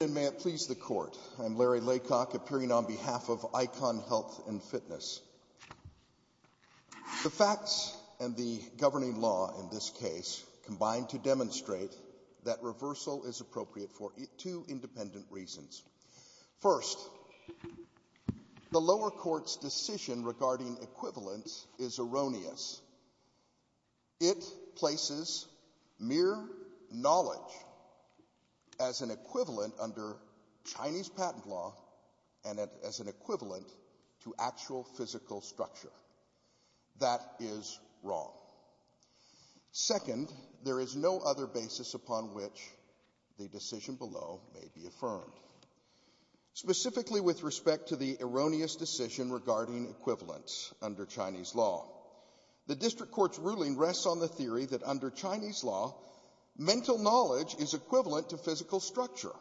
am Larry Laycock, appearing on behalf of ICON Health & Fitness. The facts and the governing law in this case combine to demonstrate that reversal is appropriate for two independent reasons. First, the lower court's decision regarding equivalence is erroneous. It places mere knowledge as an equivalent under Chinese patent law and as an equivalent to actual physical structure. That is wrong. Second, there is no other basis upon which the decision below may be affirmed. Specifically with respect to the erroneous decision regarding equivalence under Chinese law. The district court's ruling rests on the theory that under Chinese law, mental knowledge is equivalent to physical structure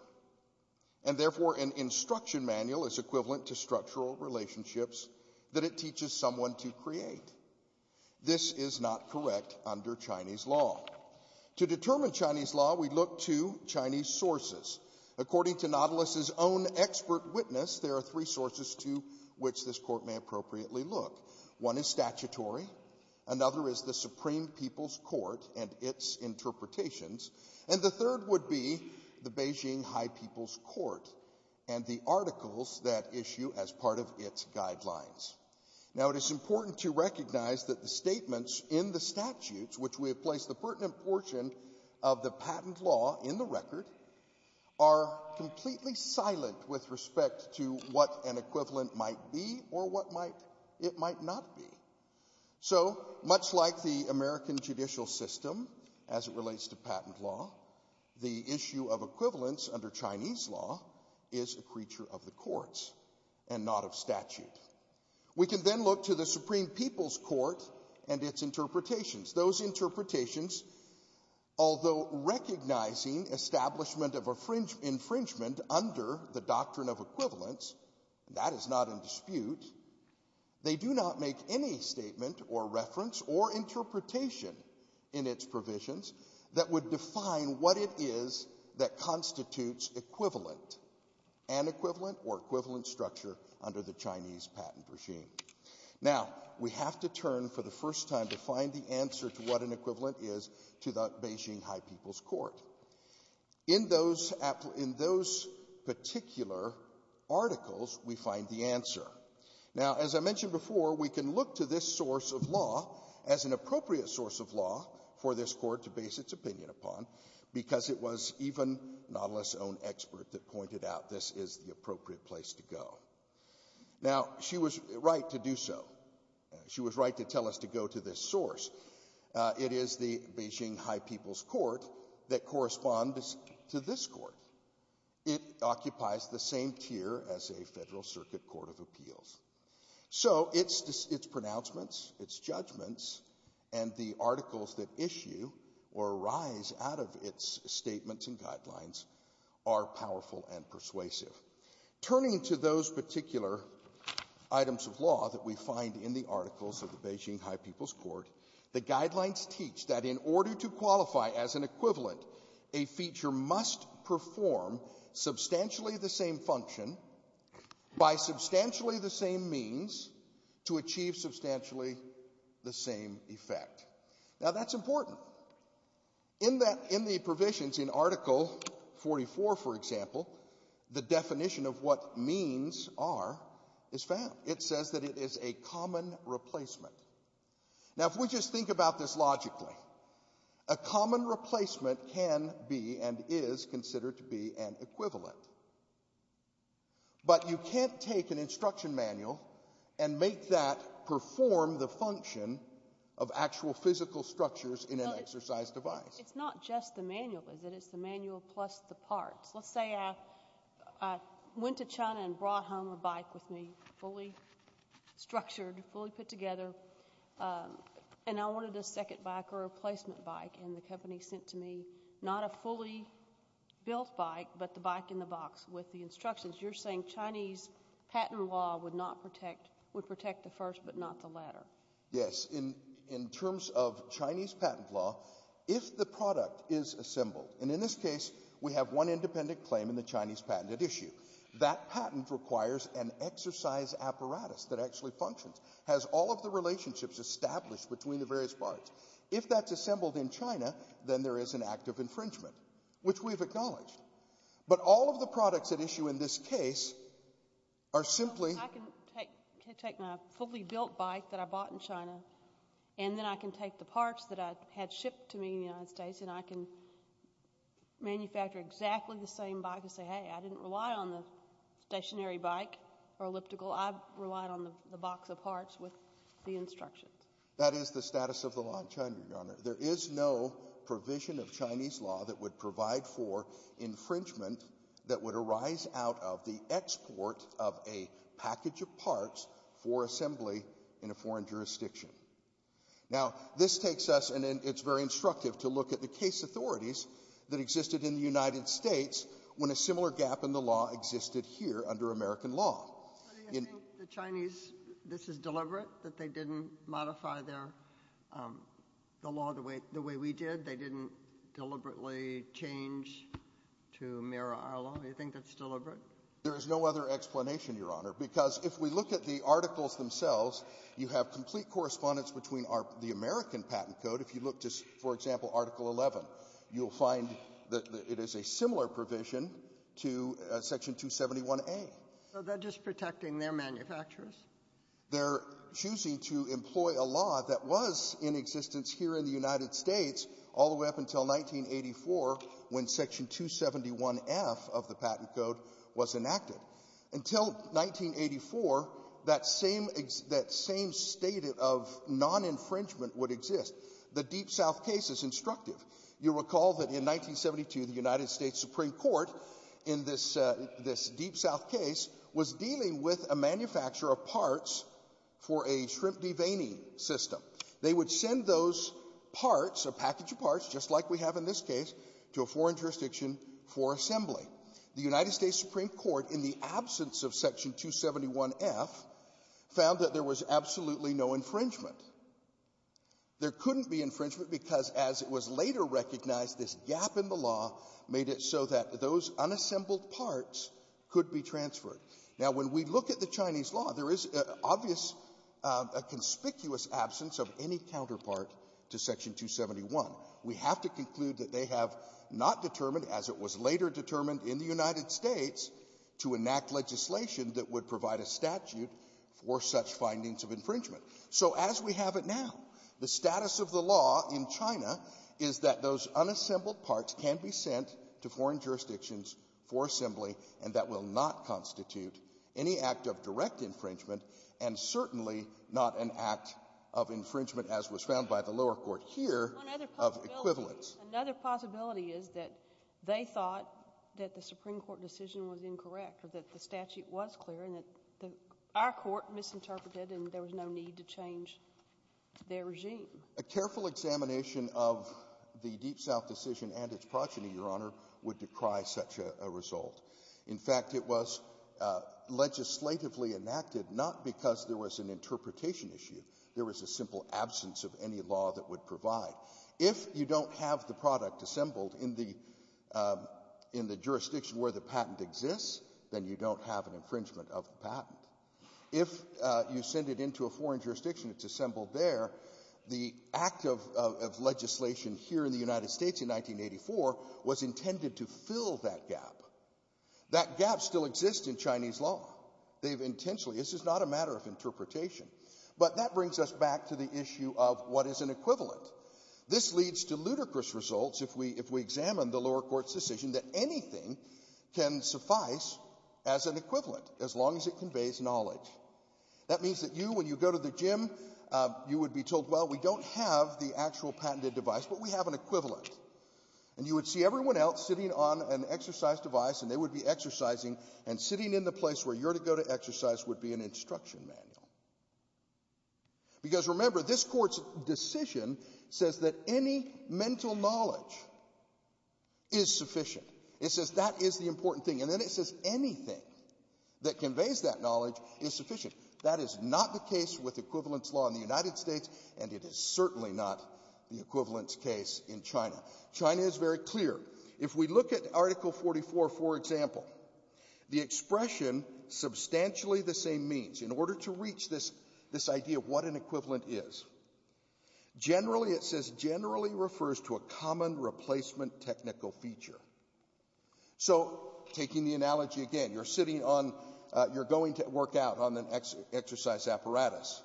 and therefore an instruction manual is equivalent to structural relationships that it teaches someone to create. This is not correct under Chinese law. To determine Chinese law, we look to Chinese sources. According to Nautilus' own expert witness, there are three sources to which this court may appropriately look. One is statutory, another is the Supreme People's Court and its interpretations, and the third would be the Beijing High People's Court and the articles that issue as part of its guidelines. Now it is important to recognize that the statements in the statutes which we have placed the pertinent portion of the patent law in the record are completely silent with respect to what an equivalent might be or what it might not be. So much like the American judicial system as it relates to patent law, the issue of equivalence under Chinese law is a creature of the courts and not of statute. We can then look to the Supreme People's Court and its interpretations. Those interpretations, although recognizing establishment of infringement under the doctrine of equivalence, that is not in dispute, they do not make any statement or reference or interpretation in its provisions that would define what it is that constitutes equivalent, an equivalent or equivalent structure under the Chinese patent regime. Now we have to turn for the first time to find the answer to what an equivalent is to the Beijing High People's Court. In those particular articles, we find the answer. Now as I mentioned before, we can look to this source of law as an appropriate source of law for this court to base its opinion upon because it was even Nautilus' own expert that pointed out this is the appropriate place to go. Now she was right to do so. She was right to tell us to go to this source. It is the Beijing High People's Court that corresponds to this court. It occupies the same tier as a Federal Circuit Court of Appeals. So its pronouncements, its judgments, and the articles that issue or arise out of its statements and guidelines are powerful and persuasive. Turning to those particular items of law that we find in the articles of the Beijing High People's Court, the guidelines teach that in order to qualify as an equivalent, a feature must perform substantially the same function by substantially the same means to achieve substantially the same effect. Now that's important. In the provisions in Article 44, for example, the definition of what means are is found. It says that it is a common replacement. Now if we just think about this logically, a common replacement can be and is considered to be an equivalent. But you can't take an instruction manual and make that perform the function of actual physical structures in an exercise device. It's not just the manual, is it? It's the manual plus the parts. Let's say I went to China and brought home a bike with me, fully structured, fully put together, and I wanted a second bike or a replacement bike, and the company sent to me not a fully built bike, but the bike in the box with the instructions. You're saying Chinese patent law would not protect, would protect the first but not the latter. Yes. In terms of Chinese patent law, if the product is assembled, and in this case we have one independent claim in the Chinese patent at issue, that patent requires an exercise apparatus that actually functions, has all of the relationships established between the various parts. If that's assembled in China, then there is an act of infringement, which we have acknowledged. But all of the products at issue in this case are simply I can take my fully built bike that I bought in China, and then I can take the parts that I had shipped to me in the United States, and I can manufacture exactly the same bike and say, hey, I didn't rely on the stationary bike or elliptical. I relied on the box of parts with the instructions. That is the status of the law in China, Your Honor. There is no provision of Chinese law that would provide for infringement that would arise out of the export of a package of parts for assembly in a foreign jurisdiction. Now, this takes us, and it's very instructive to look at the case authorities that existed in the United States when a similar gap in the law existed here under American law. In the Chinese, this is deliberate, that they didn't modify their law the way we did? They didn't deliberately change to mirror our law? You think that's deliberate? There is no other explanation, Your Honor, because if we look at the articles themselves, you have complete correspondence between the American Patent Code. If you look to, for example, Article 11, you'll find that it is a similar provision to Section 271a. So they're just protecting their manufacturers? They're choosing to employ a law that was in existence here in the United States all the way up until 1984 when Section 271f of the Patent Code was enacted. Until 1984, that same state of non-infringement would exist. The Deep South case is instructive. You'll recall that in 1972, the United States Supreme Court, in this Deep South case, was dealing with a manufacturer of parts for a shrimp deveining system. They would send those parts, a package of parts, just like we have in this case, to a foreign jurisdiction for assembly. The United States Supreme Court, in the absence of Section 271f, found that there was absolutely no infringement. There couldn't be infringement because, as it was later recognized, this gap in the law made it so that those unassembled parts could be transferred. Now, when we look at the Chinese law, there is obvious, a conspicuous absence of any counterpart to Section 271. We have to conclude that they have not determined, as it was later determined in the United States, to enact legislation that would provide a statute for such findings of infringement. So as we have it now, the status of the law in China is that those unassembled parts can be sent to foreign jurisdictions for assembly, and that will not constitute any act of direct infringement, and certainly not an act of infringement, as was found by the lower court here, of equivalence. Another possibility is that they thought that the Supreme Court decision was incorrect or that the statute was clear and that our court misinterpreted and there was no need to change their regime. A careful examination of the Deep South decision and its progeny, Your Honor, would decry such a result. In fact, it was legislatively enacted not because there was an interpretation issue. There was a simple absence of any law that would provide. If you don't have the product assembled in the jurisdiction where the patent exists, then you don't have an infringement of the patent. If you send it into a foreign jurisdiction, it's assembled there, the act of legislation here in the United States in 1984 was intended to fill that gap. That gap still exists in Chinese law. They've intentionally — this is not a matter of interpretation. But that brings us back to the issue of what is an equivalent. This leads to ludicrous results if we examine the lower court's decision that anything can suffice as an equivalent as long as it conveys knowledge. That means that you, when you go to the gym, you would be told, well, we don't have the actual patented device, but we have an equivalent. And you would see everyone else sitting on an exercise device, and they would be exercising, and sitting in the place where you're to go to exercise would be an instruction manual. Because remember, this court's decision says that any mental knowledge is sufficient. It says that is the important thing. And then it says anything that conveys that knowledge is sufficient. That is not the case with equivalence law in the United States, and it is certainly not the equivalence case in China. China is very clear. If we look at Article 44, for example, the expression, substantially the same means, in order to reach this idea of what an equivalent is, generally it says generally refers to a common replacement technical feature. So taking the analogy again, you're sitting on, you're going to work out on an exercise apparatus,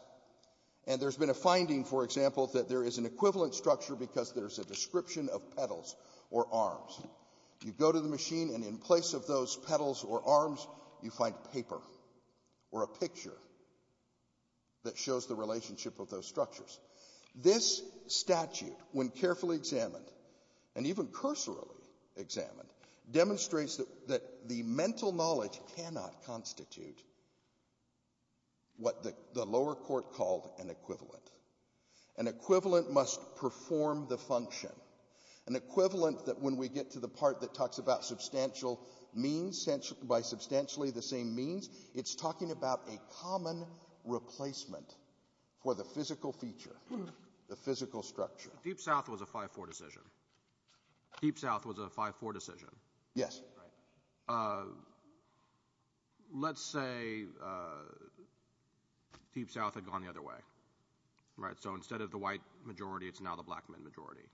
and there's been a finding, for example, that there is an equivalent structure because there's a description of pedals or arms. You go to the machine, and in place of those pedals or arms, you find paper or a picture that shows the relationship of those structures. This statute, when carefully examined, and even cursorily examined, demonstrates that the mental knowledge cannot constitute what the lower court called an equivalent. An equivalent must perform the function, an equivalent that when we get to the part that talks about substantial means, by substantially the same means, it's talking about a common replacement for the physical feature, the physical structure. Deep South was a 5-4 decision. Deep South was a 5-4 decision. Yes. Let's say Deep South had gone the other way. So instead of the white majority, it's now the black men majority.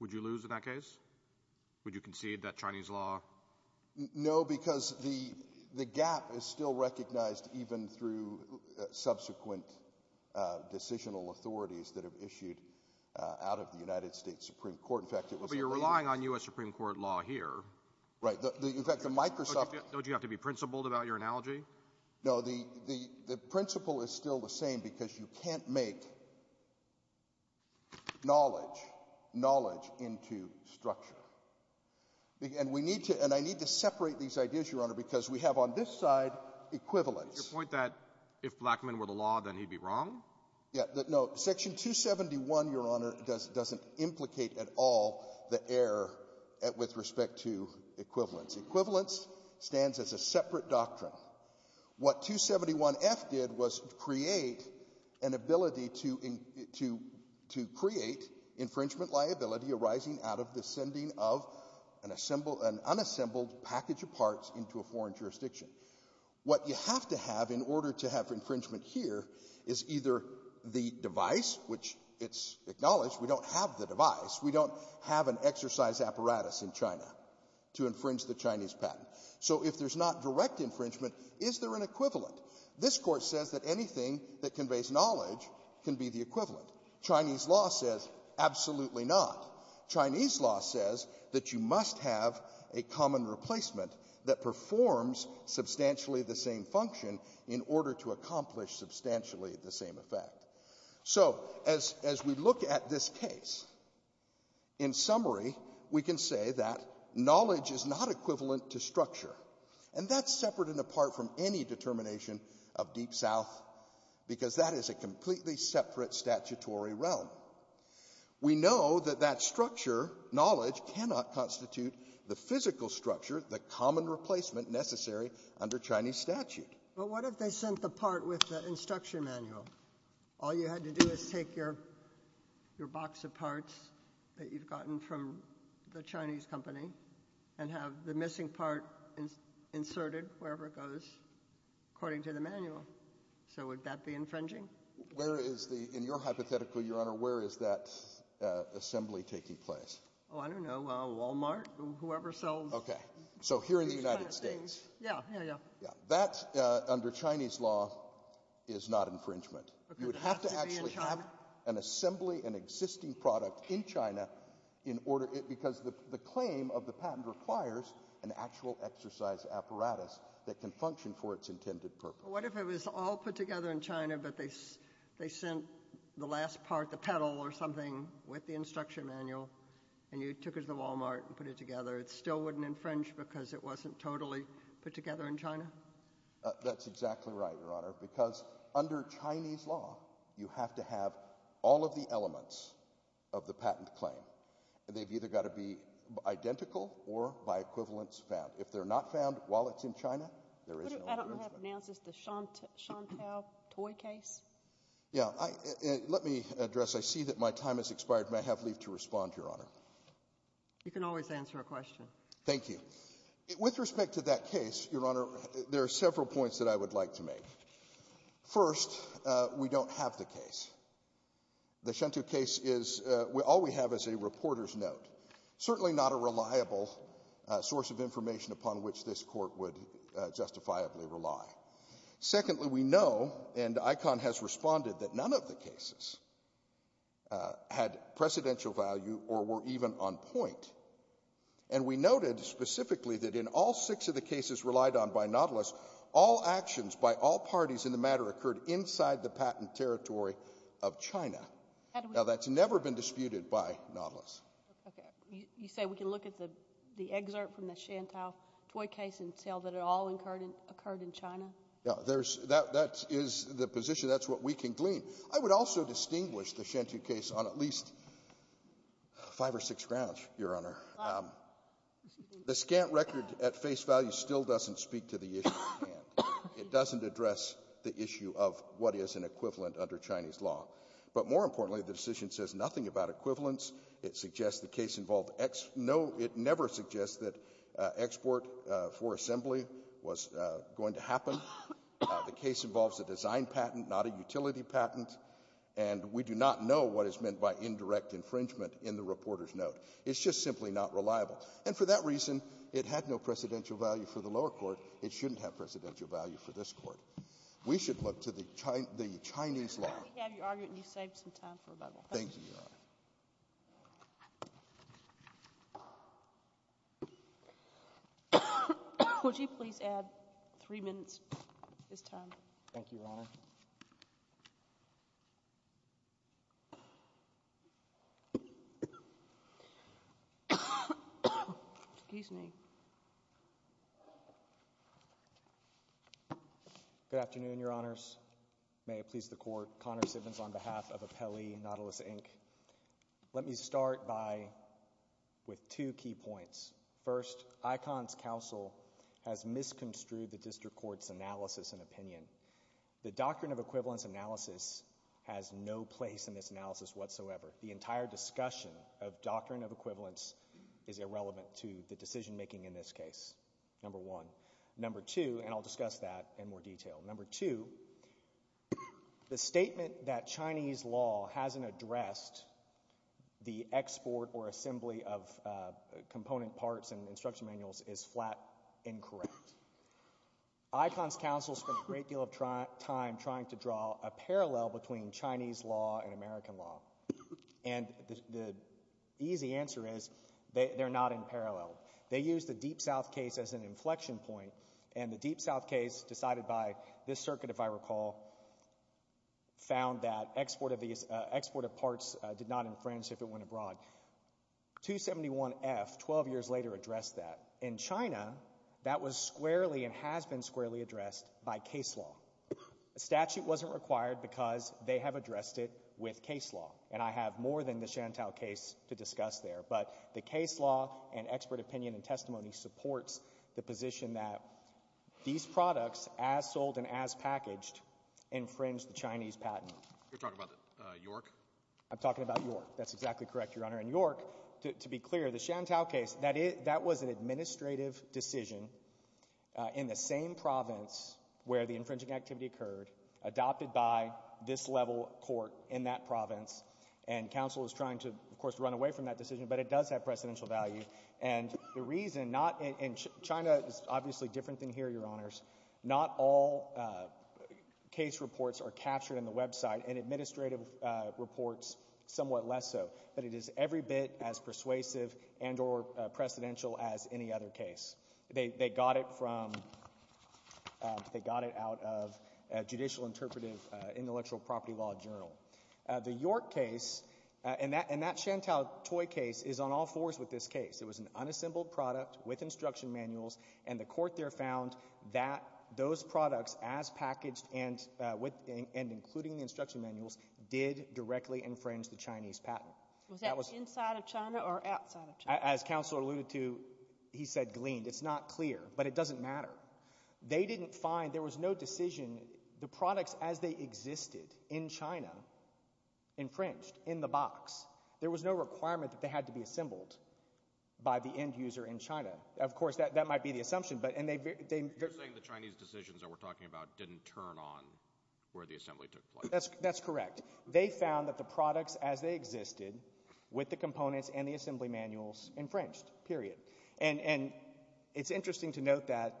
Would you lose in that case? Would you concede that Chinese law? No, because the gap is still recognized even through subsequent decisional authorities that have issued out of the United States Supreme Court. In fact, it was the— But you're relying on U.S. Supreme Court law here. Right. In fact, the Microsoft— Don't you have to be principled about your analogy? No, the principle is still the same because you can't make knowledge knowledge into structure. And we need to—and I need to separate these ideas, Your Honor, because we have on this side equivalence. Your point that if black men were the law, then he'd be wrong? Yeah. No, Section 271, Your Honor, doesn't implicate at all the error with respect to equivalence. Equivalence stands as a separate doctrine. What 271F did was create an ability to create infringement liability arising out of the sending of an unassembled package of parts into a foreign jurisdiction. What you have to have in order to have infringement here is either the device, which it's acknowledged we don't have the device. We don't have an exercise apparatus in China to infringe the Chinese patent. So if there's not direct infringement, is there an equivalent? This Court says that anything that conveys knowledge can be the equivalent. Chinese law says absolutely not. Chinese law says that you must have a common replacement that performs substantially the same function in order to accomplish substantially the same effect. So as we look at this case, in summary, we can say that knowledge is not equivalent to structure. And that's separate and apart from any determination of Deep South, because that is a completely separate statutory realm. We know that that structure, knowledge, cannot constitute the physical structure, the common replacement necessary under Chinese statute. But what if they sent the part with the instruction manual? All you had to do is take your box of parts that you've gotten from the Chinese company and have the missing part inserted wherever it goes according to the manual. So would that be infringing? Where is the, in your hypothetical, Your Honor, where is that assembly taking place? Oh, I don't know, Walmart, whoever sells these kind of things. Okay. So here in the United States. Yeah, yeah, yeah. Yeah. That, under Chinese law, is not infringement. You would have to actually have an assembly, an existing product in China in order, because the claim of the patent requires an actual exercise apparatus that can function for its intended purpose. Well, what if it was all put together in China, but they sent the last part, the pedal or something, with the instruction manual, and you took it to Walmart and put it together? It still wouldn't infringe because it wasn't totally put together in China? That's exactly right, Your Honor. Because under Chinese law, you have to have all of the elements of the patent claim. And they've either got to be identical or, by equivalence, found. If they're not found while it's in China, there is no infringement. I don't know how to pronounce this. The Shantou toy case? Yeah. Let me address. I see that my time has expired, and I have leave to respond, Your Honor. You can always answer a question. Thank you. With respect to that case, Your Honor, there are several points that I would like to make. First, we don't have the case. The Shantou case is, all we have is a reporter's note. Certainly not a reliable source of information upon which this Court would justifiably rely. Secondly, we know, and ICON has responded, that none of the cases had precedential value or were even on point. And we noted specifically that in all six of the cases relied on by Nautilus, all actions by all parties in the matter occurred inside the patent territory of China. Now, that's never been disputed by Nautilus. Okay. You say we can look at the excerpt from the Shantou toy case and tell that it all occurred in China? Yeah. That is the position. That's what we can glean. I would also distinguish the Shantou case on at least five or six grounds, Your Honor. The scant record at face value still doesn't speak to the issue at hand. It doesn't address the issue of what is an equivalent under Chinese law. But more importantly, the decision says nothing about equivalents. It suggests the case involved ex — no, it never suggests that export for assembly was going to happen. The case involves a design patent, not a utility patent. And we do not know what is meant by indirect infringement in the reporter's note. It's just simply not reliable. And for that reason, it had no precedential value for the lower court. It shouldn't have precedential value for this Court. We should look to the Chinese law. We have your argument, and you've saved some time for rebuttal. Thank you, Your Honor. Would you please add three minutes? It's time. Thank you, Your Honor. Excuse me. Good afternoon, Your Honors. May it please the Court. Connor Simmons on behalf of Apelli Nautilus, Inc. Let me start by — with two key points. First, ICON's counsel has misconstrued the District Court's analysis and opinion. The doctrine of equivalence analysis has no place in this analysis whatsoever. The entire discussion of doctrine of equivalence is irrelevant to the decision-making in this case. Number one. Number two, and I'll discuss that in more detail. Number two, the statement that Chinese law hasn't addressed the export or assembly of component parts and instruction manuals is flat incorrect. ICON's counsel spent a great deal of time trying to draw a parallel between Chinese law and American law. And the easy answer is they're not in parallel. They used the Deep South case as an inflection point, and the Deep South case decided by this circuit, if I recall, found that export of parts did not infringe if it went abroad. 271F, 12 years later, addressed that. In China, that was squarely and has been squarely addressed by case law. A statute wasn't required because they have addressed it with case law, and I have more than the Shantel case to discuss there. But the case law and expert opinion and testimony supports the position that these products, as sold and as packaged, infringe the Chinese patent. You're talking about York? I'm talking about York. That's exactly correct, Your Honor. In York, to be clear, the Shantel case, that was an administrative decision in the same province where the infringing activity occurred, adopted by this level court in that province, and counsel is trying to, of course, run away from that decision, but it does have precedential value. And the reason not in China is obviously different than here, Your Honors. Not all case reports are captured in the website, and administrative reports somewhat less so. But it is every bit as persuasive and or precedential as any other case. They got it from, they got it out of a judicial interpretive intellectual property law journal. The York case and that Shantel toy case is on all fours with this case. It was an unassembled product with instruction manuals, and the court there found that those products as packaged and including the instruction manuals did directly infringe the Chinese patent. Was that inside of China or outside of China? As counsel alluded to, he said gleaned. It's not clear, but it doesn't matter. They didn't find, there was no decision, the products as they existed in China infringed in the box. There was no requirement that they had to be assembled by the end user in China. Of course, that might be the assumption. You're saying the Chinese decisions that we're talking about didn't turn on where the assembly took place. That's correct. They found that the products as they existed with the components and the assembly manuals infringed, period. And it's interesting to note that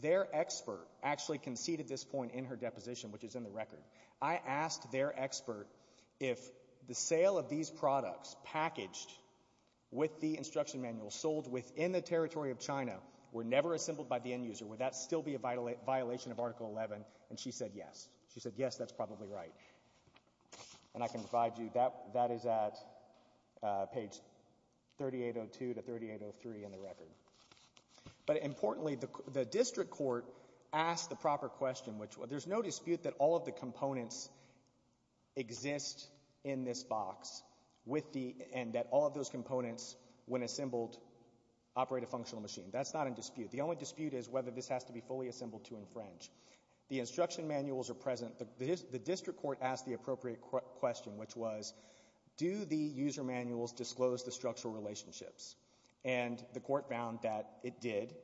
their expert actually conceded this point in her deposition, which is in the record. I asked their expert if the sale of these products packaged with the instruction manuals sold within the territory of China were never assembled by the end user, would that still be a violation of Article 11? And she said yes. She said, yes, that's probably right. And I can provide you, that is at page 3802 to 3803 in the record. But importantly, the district court asked the proper question, which there's no dispute that all of the components exist in this box and that all of those components, when assembled, operate a functional machine. That's not in dispute. The only dispute is whether this has to be fully assembled to infringe. The instruction manuals are present. The district court asked the appropriate question, which was, do the user manuals disclose the structural relationships? And the court found that it did,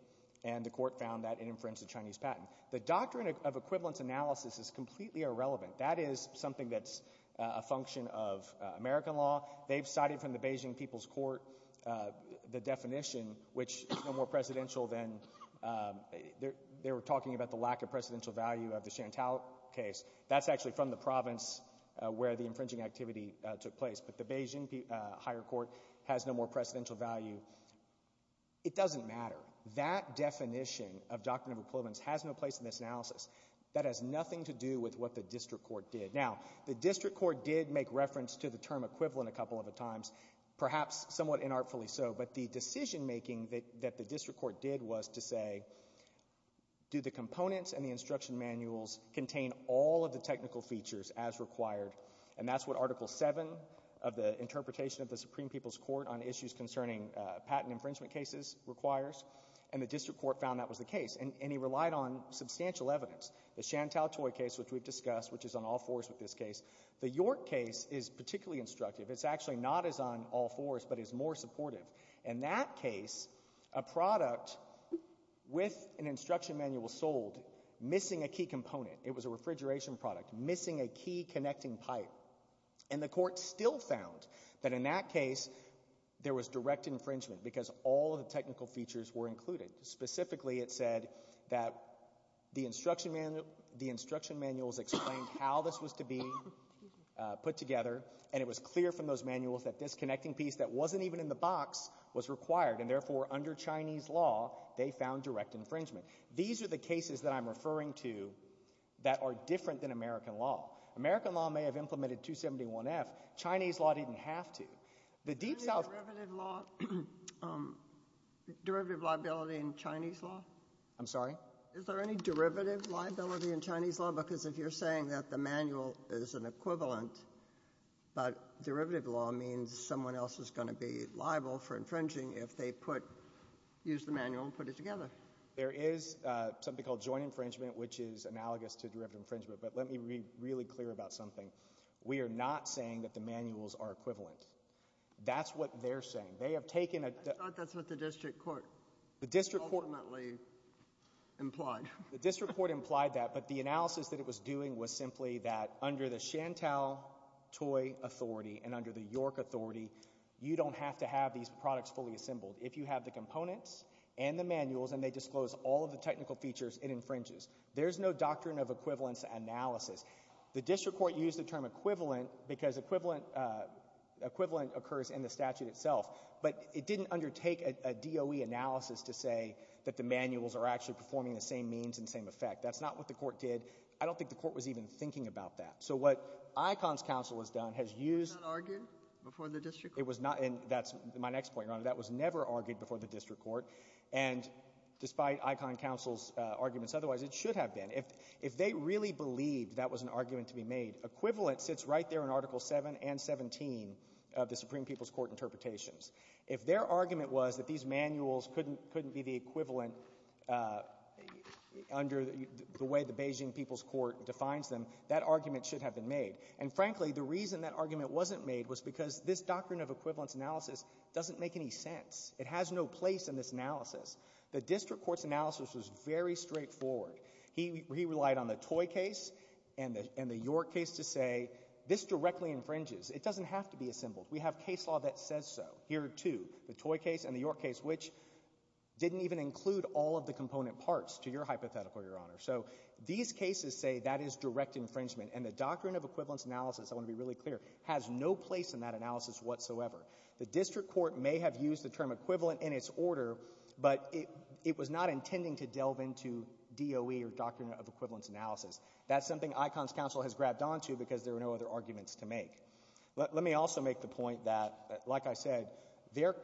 and the court found that it infringed the Chinese patent. The doctrine of equivalence analysis is completely irrelevant. That is something that's a function of American law. They've cited from the Beijing People's Court the definition, which is no more presidential than they were talking about the lack of precedential value of the Chantal case. That's actually from the province where the infringing activity took place. But the Beijing Higher Court has no more precedential value. It doesn't matter. That definition of doctrine of equivalence has no place in this analysis. That has nothing to do with what the district court did. Now, the district court did make reference to the term equivalent a couple of times, perhaps somewhat inartfully so. But the decision-making that the district court did was to say, do the components and the instruction manuals contain all of the technical features as required? And that's what Article 7 of the Interpretation of the Supreme People's Court on Issues Concerning Patent Infringement Cases requires. And the district court found that was the case, and he relied on substantial evidence. The Chantal Toy case, which we've discussed, which is on all fours with this case. The York case is particularly instructive. It's actually not as on all fours but is more supportive. In that case, a product with an instruction manual sold, missing a key component. It was a refrigeration product, missing a key connecting pipe. And the court still found that in that case there was direct infringement because all of the technical features were included. Specifically, it said that the instruction manuals explained how this was to be put together, and it was clear from those manuals that this connecting piece that wasn't even in the box was required. And therefore, under Chinese law, they found direct infringement. These are the cases that I'm referring to that are different than American law. American law may have implemented 271F. Chinese law didn't have to. The Deep South — Is there any derivative law, derivative liability in Chinese law? I'm sorry? Is there any derivative liability in Chinese law? Because if you're saying that the manual is an equivalent, but derivative law means someone else is going to be liable for infringing if they put — use the manual and put it together. There is something called joint infringement, which is analogous to derivative infringement. But let me be really clear about something. We are not saying that the manuals are equivalent. That's what they're saying. They have taken a — I thought that's what the district court — Implied. The district court implied that. But the analysis that it was doing was simply that under the Chantal Toy Authority and under the York Authority, you don't have to have these products fully assembled. If you have the components and the manuals and they disclose all of the technical features, it infringes. There's no doctrine of equivalence analysis. The district court used the term equivalent because equivalent occurs in the statute itself. But it didn't undertake a DOE analysis to say that the manuals are actually performing the same means and same effect. That's not what the court did. I don't think the court was even thinking about that. So what ICONS Council has done has used — Was that argued before the district court? It was not, and that's my next point, Your Honor. That was never argued before the district court. And despite ICONS Council's arguments otherwise, it should have been. If they really believed that was an argument to be made, equivalent sits right there in Article 7 and 17 of the Supreme People's Court interpretations. If their argument was that these manuals couldn't be the equivalent under the way the Beijing People's Court defines them, that argument should have been made. And frankly, the reason that argument wasn't made was because this doctrine of equivalence analysis doesn't make any sense. It has no place in this analysis. The district court's analysis was very straightforward. He relied on the Toy case and the York case to say this directly infringes. It doesn't have to be assembled. We have case law that says so. Here are two, the Toy case and the York case, which didn't even include all of the component parts to your hypothetical, Your Honor. So these cases say that is direct infringement, and the doctrine of equivalence analysis, I want to be really clear, has no place in that analysis whatsoever. The district court may have used the term equivalent in its order, but it was not intending to delve into DOE or doctrine of equivalence analysis. That's something ICONS Council has grabbed onto because there were no other arguments to make. Let me also make the point that, like I said, their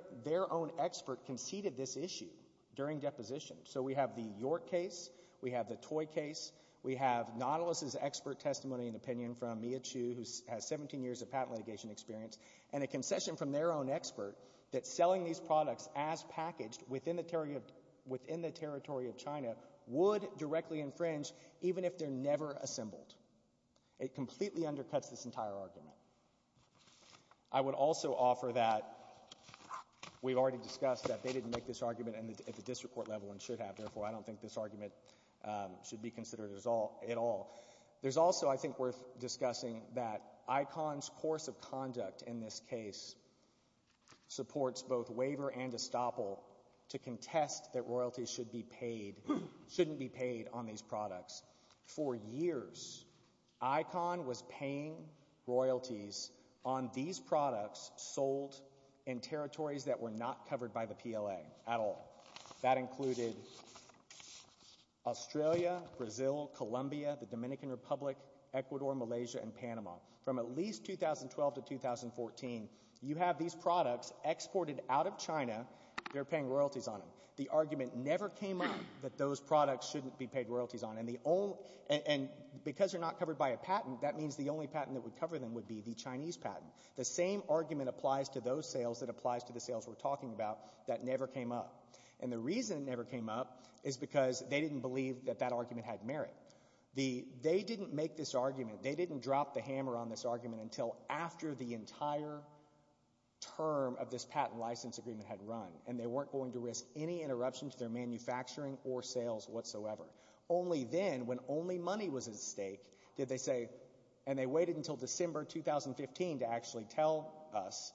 own expert conceded this issue during deposition. So we have the York case. We have the Toy case. We have Nautilus's expert testimony and opinion from Mia Chu, who has 17 years of patent litigation experience, and a concession from their own expert that selling these products as packaged within the territory of China would directly infringe, even if they're never assembled. It completely undercuts this entire argument. I would also offer that we've already discussed that they didn't make this argument at the district court level and should have. Therefore, I don't think this argument should be considered at all. There's also, I think, worth discussing that ICONS course of conduct in this case supports both waiver and estoppel to contest that royalties shouldn't be paid on these products. For years, ICONS was paying royalties on these products sold in territories that were not covered by the PLA at all. That included Australia, Brazil, Colombia, the Dominican Republic, Ecuador, Malaysia, and Panama. From at least 2012 to 2014, you have these products exported out of China. They're paying royalties on them. The argument never came up that those products shouldn't be paid royalties on, and because they're not covered by a patent, that means the only patent that would cover them would be the Chinese patent. The same argument applies to those sales that applies to the sales we're talking about that never came up. And the reason it never came up is because they didn't believe that that argument had merit. They didn't make this argument. They didn't drop the hammer on this argument until after the entire term of this patent license agreement had run, and they weren't going to risk any interruption to their manufacturing or sales whatsoever. Only then, when only money was at stake, did they say, and they waited until December 2015 to actually tell us,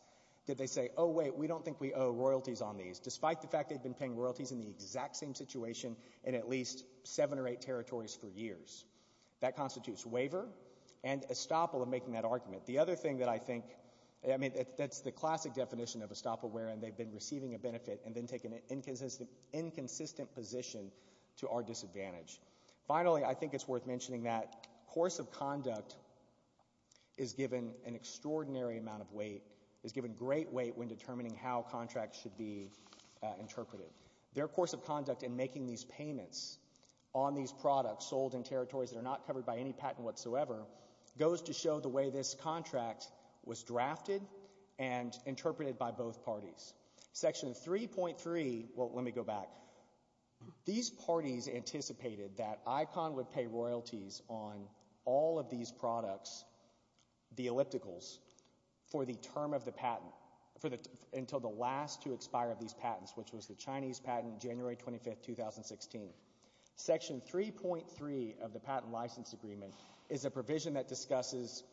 did they say, oh, wait, we don't think we owe royalties on these, despite the fact they'd been paying royalties in the exact same situation in at least seven or eight territories for years. That constitutes waiver and estoppel of making that argument. The other thing that I think, I mean, that's the classic definition of estoppel, where they've been receiving a benefit and then taken an inconsistent position to our disadvantage. Finally, I think it's worth mentioning that course of conduct is given an extraordinary amount of weight, is given great weight when determining how contracts should be interpreted. Their course of conduct in making these payments on these products sold in territories that are not covered by any patent whatsoever goes to show the way this contract was drafted and interpreted by both parties. Section 3.3, well, let me go back. These parties anticipated that ICON would pay royalties on all of these products, the ellipticals, for the term of the patent, until the last to expire of these patents, which was the Chinese patent, January 25, 2016. Section 3.3 of the patent license agreement is a provision that discusses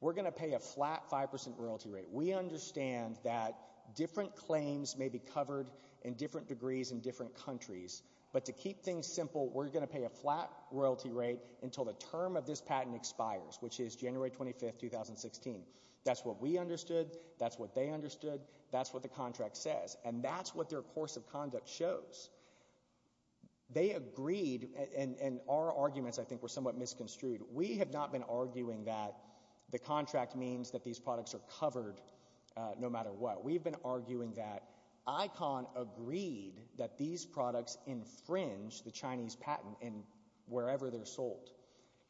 we're going to pay a flat 5% royalty rate. We understand that different claims may be covered in different degrees in different countries, but to keep things simple, we're going to pay a flat royalty rate until the term of this patent expires, which is January 25, 2016. That's what we understood. That's what they understood. That's what the contract says. And that's what their course of conduct shows. They agreed, and our arguments, I think, were somewhat misconstrued. We have not been arguing that the contract means that these products are covered no matter what. We've been arguing that ICON agreed that these products infringe the Chinese patent in wherever they're sold.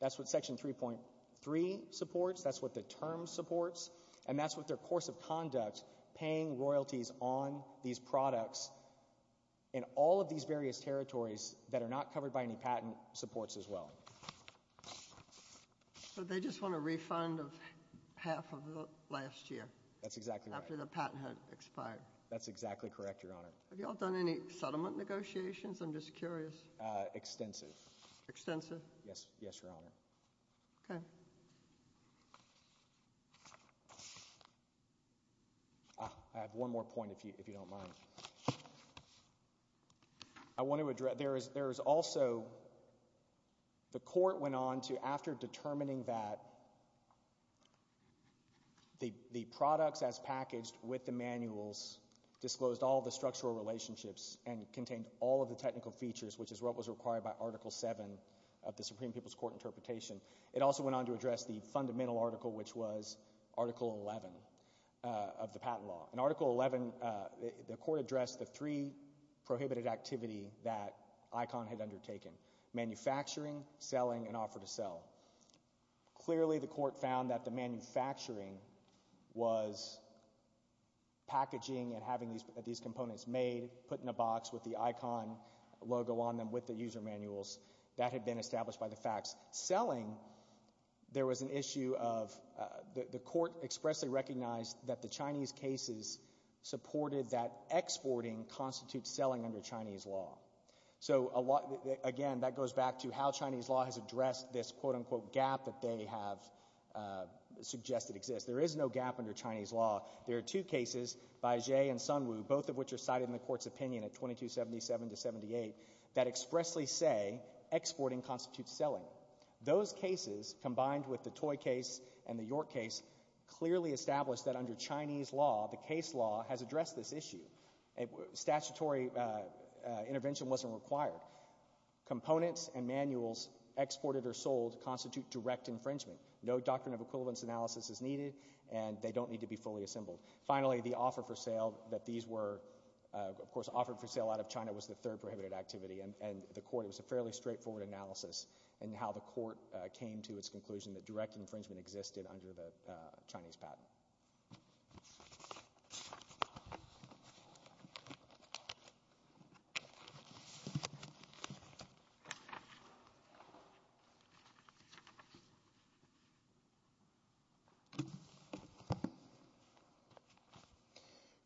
That's what Section 3.3 supports. That's what the term supports. And that's what their course of conduct, paying royalties on these products in all of these various territories that are not covered by any patent supports as well. But they just want a refund of half of last year. That's exactly right. After the patent had expired. That's exactly correct, Your Honor. Have you all done any settlement negotiations? I'm just curious. Extensive. Extensive? Yes, Your Honor. Okay. I have one more point, if you don't mind. I want to address—there is also—the court went on to, after determining that the products as packaged with the manuals disclosed all the structural relationships and contained all of the technical features, which is what was required by Article 7 of the Supreme People's Court interpretation. It also went on to address the fundamental article, which was Article 11 of the patent law. In Article 11, the court addressed the three prohibited activities that ICON had undertaken. Manufacturing, selling, and offer to sell. Clearly, the court found that the manufacturing was packaging and having these components made, put in a box with the ICON logo on them with the user manuals. That had been established by the facts. Selling, there was an issue of—the court expressly recognized that the Chinese cases supported that exporting constitutes selling under Chinese law. So, again, that goes back to how Chinese law has addressed this, quote-unquote, gap that they have suggested exists. There is no gap under Chinese law. There are two cases, Bai Jie and Sun Wu, both of which are cited in the court's opinion at 2277-78, that expressly say exporting constitutes selling. Those cases, combined with the Toy case and the York case, clearly established that under Chinese law, the case law has addressed this issue. Statutory intervention wasn't required. Components and manuals exported or sold constitute direct infringement. No doctrine of equivalence analysis is needed, and they don't need to be fully assembled. Finally, the offer for sale that these were, of course, offered for sale out of China was the third prohibited activity, and the court—it was a fairly straightforward analysis in how the court came to its conclusion that direct infringement existed under the Chinese patent.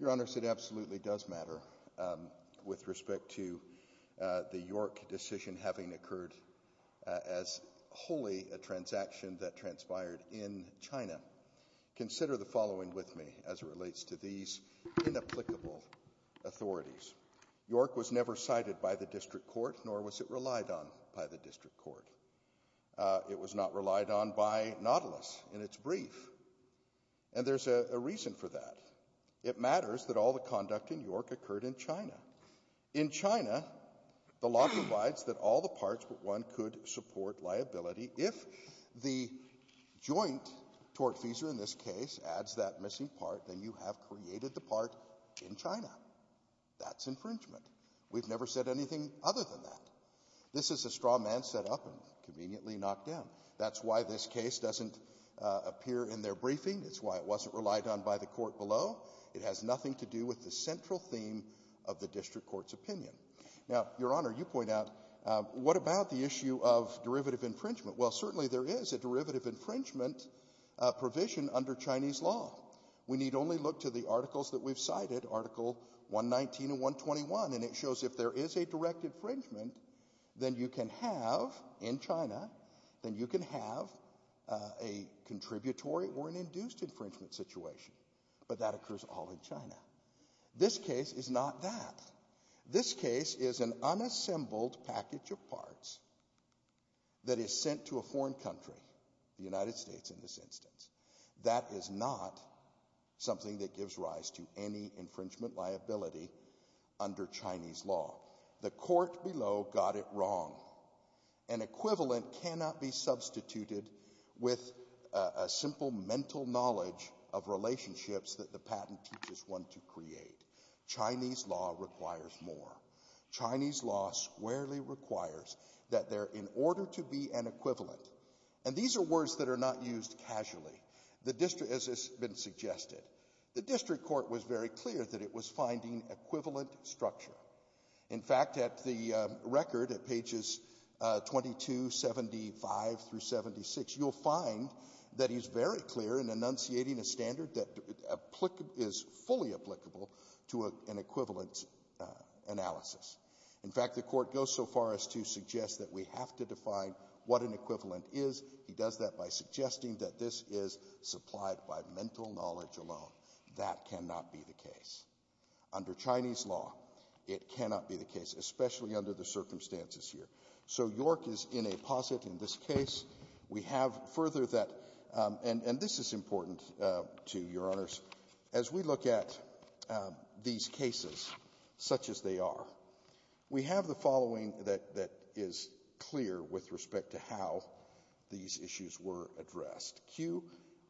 Your Honor, it absolutely does matter with respect to the York decision having occurred as wholly a transaction that transpired in China. Consider the following with me as it relates to these inapplicable authorities. York was never cited by the district court, nor was it relied on by the district court. It was not relied on by Nautilus in its brief, and there's a reason for that. It matters that all the conduct in York occurred in China. In China, the law provides that all the parts but one could support liability. If the joint tortfeasor in this case adds that missing part, then you have created the part in China. That's infringement. We've never said anything other than that. This is a straw man set up and conveniently knocked down. That's why this case doesn't appear in their briefing. It's why it wasn't relied on by the court below. It has nothing to do with the central theme of the district court's opinion. Now, Your Honor, you point out, what about the issue of derivative infringement? Well, certainly there is a derivative infringement provision under Chinese law. We need only look to the articles that we've cited, Article 119 and 121, and it shows if there is a direct infringement, then you can have, in China, then you can have a contributory or an induced infringement situation. But that occurs all in China. This case is not that. This case is an unassembled package of parts that is sent to a foreign country, the United States in this instance. That is not something that gives rise to any infringement liability under Chinese law. The court below got it wrong. An equivalent cannot be substituted with a simple mental knowledge of relationships that the patent teaches one to create. Chinese law requires more. Chinese law squarely requires that there, in order to be an equivalent, and these are words that are not used casually, as has been suggested. The district court was very clear that it was finding equivalent structure. In fact, at the record, at pages 2275 through 76, you'll find that he's very clear in enunciating a standard that is fully applicable to an equivalent analysis. In fact, the court goes so far as to suggest that we have to define what an equivalent is. He does that by suggesting that this is supplied by mental knowledge alone. That cannot be the case. Under Chinese law, it cannot be the case, especially under the circumstances here. So York is in a posit in this case. We have further that, and this is important to Your Honors. As we look at these cases, such as they are, we have the following that is clear with respect to how these issues were addressed. Kew,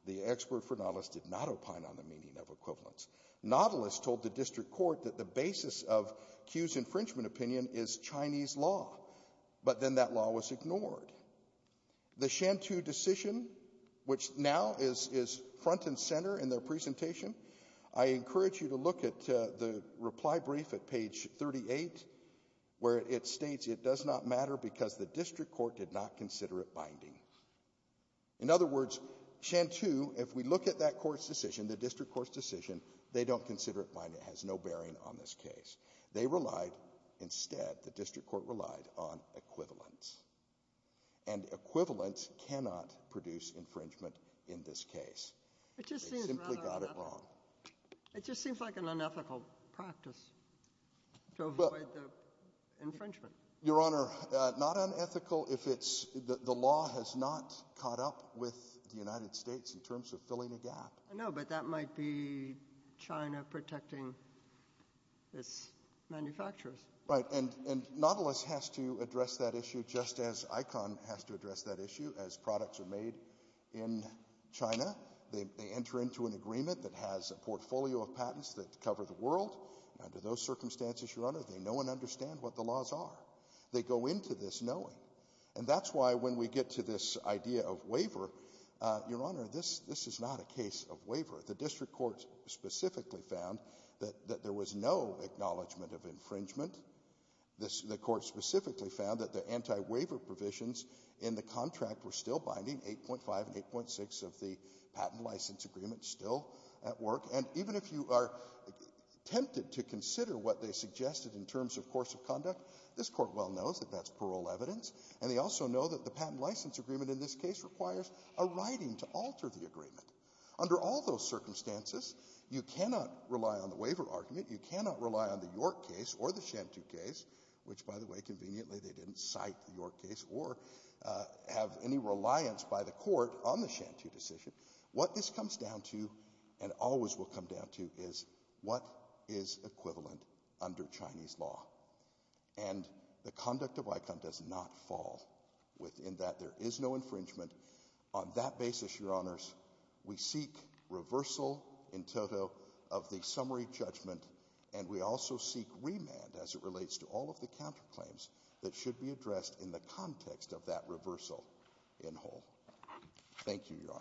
the expert for Nautilus, did not opine on the meaning of equivalents. Nautilus told the district court that the basis of Kew's infringement opinion is Chinese law. But then that law was ignored. The Shantou decision, which now is front and center in their presentation, I encourage you to look at the reply brief at page 38, where it states it does not matter because the district court did not consider it binding. In other words, Shantou, if we look at that court's decision, the district court's decision, they don't consider it binding. It has no bearing on this case. They relied instead, the district court relied on equivalents. And equivalents cannot produce infringement in this case. They simply got it wrong. It just seems like an unethical practice to avoid the infringement. Your Honor, not unethical if the law has not caught up with the United States in terms of filling a gap. I know, but that might be China protecting its manufacturers. Right, and Nautilus has to address that issue just as ICON has to address that issue. As products are made in China, they enter into an agreement that has a portfolio of patents that cover the world. Under those circumstances, Your Honor, they know and understand what the laws are. They go into this knowing. And that's why when we get to this idea of waiver, Your Honor, this is not a case of waiver. The district court specifically found that there was no acknowledgment of infringement. The court specifically found that the anti-waiver provisions in the contract were still binding, 8.5 and 8.6 of the patent license agreement still at work. And even if you are tempted to consider what they suggested in terms of course of conduct, this court well knows that that's parole evidence, and they also know that the patent license agreement in this case requires a writing to alter the agreement. Under all those circumstances, you cannot rely on the waiver argument. You cannot rely on the York case or the Shantou case, which, by the way, conveniently they didn't cite the York case, or have any reliance by the court on the Shantou decision. What this comes down to, and always will come down to, is what is equivalent under Chinese law. And the conduct of ICON does not fall within that. There is no infringement. On that basis, Your Honors, we seek reversal in total of the summary judgment, and we also seek remand as it relates to all of the counterclaims that should be addressed in the context of that reversal in whole. Thank you, Your Honors.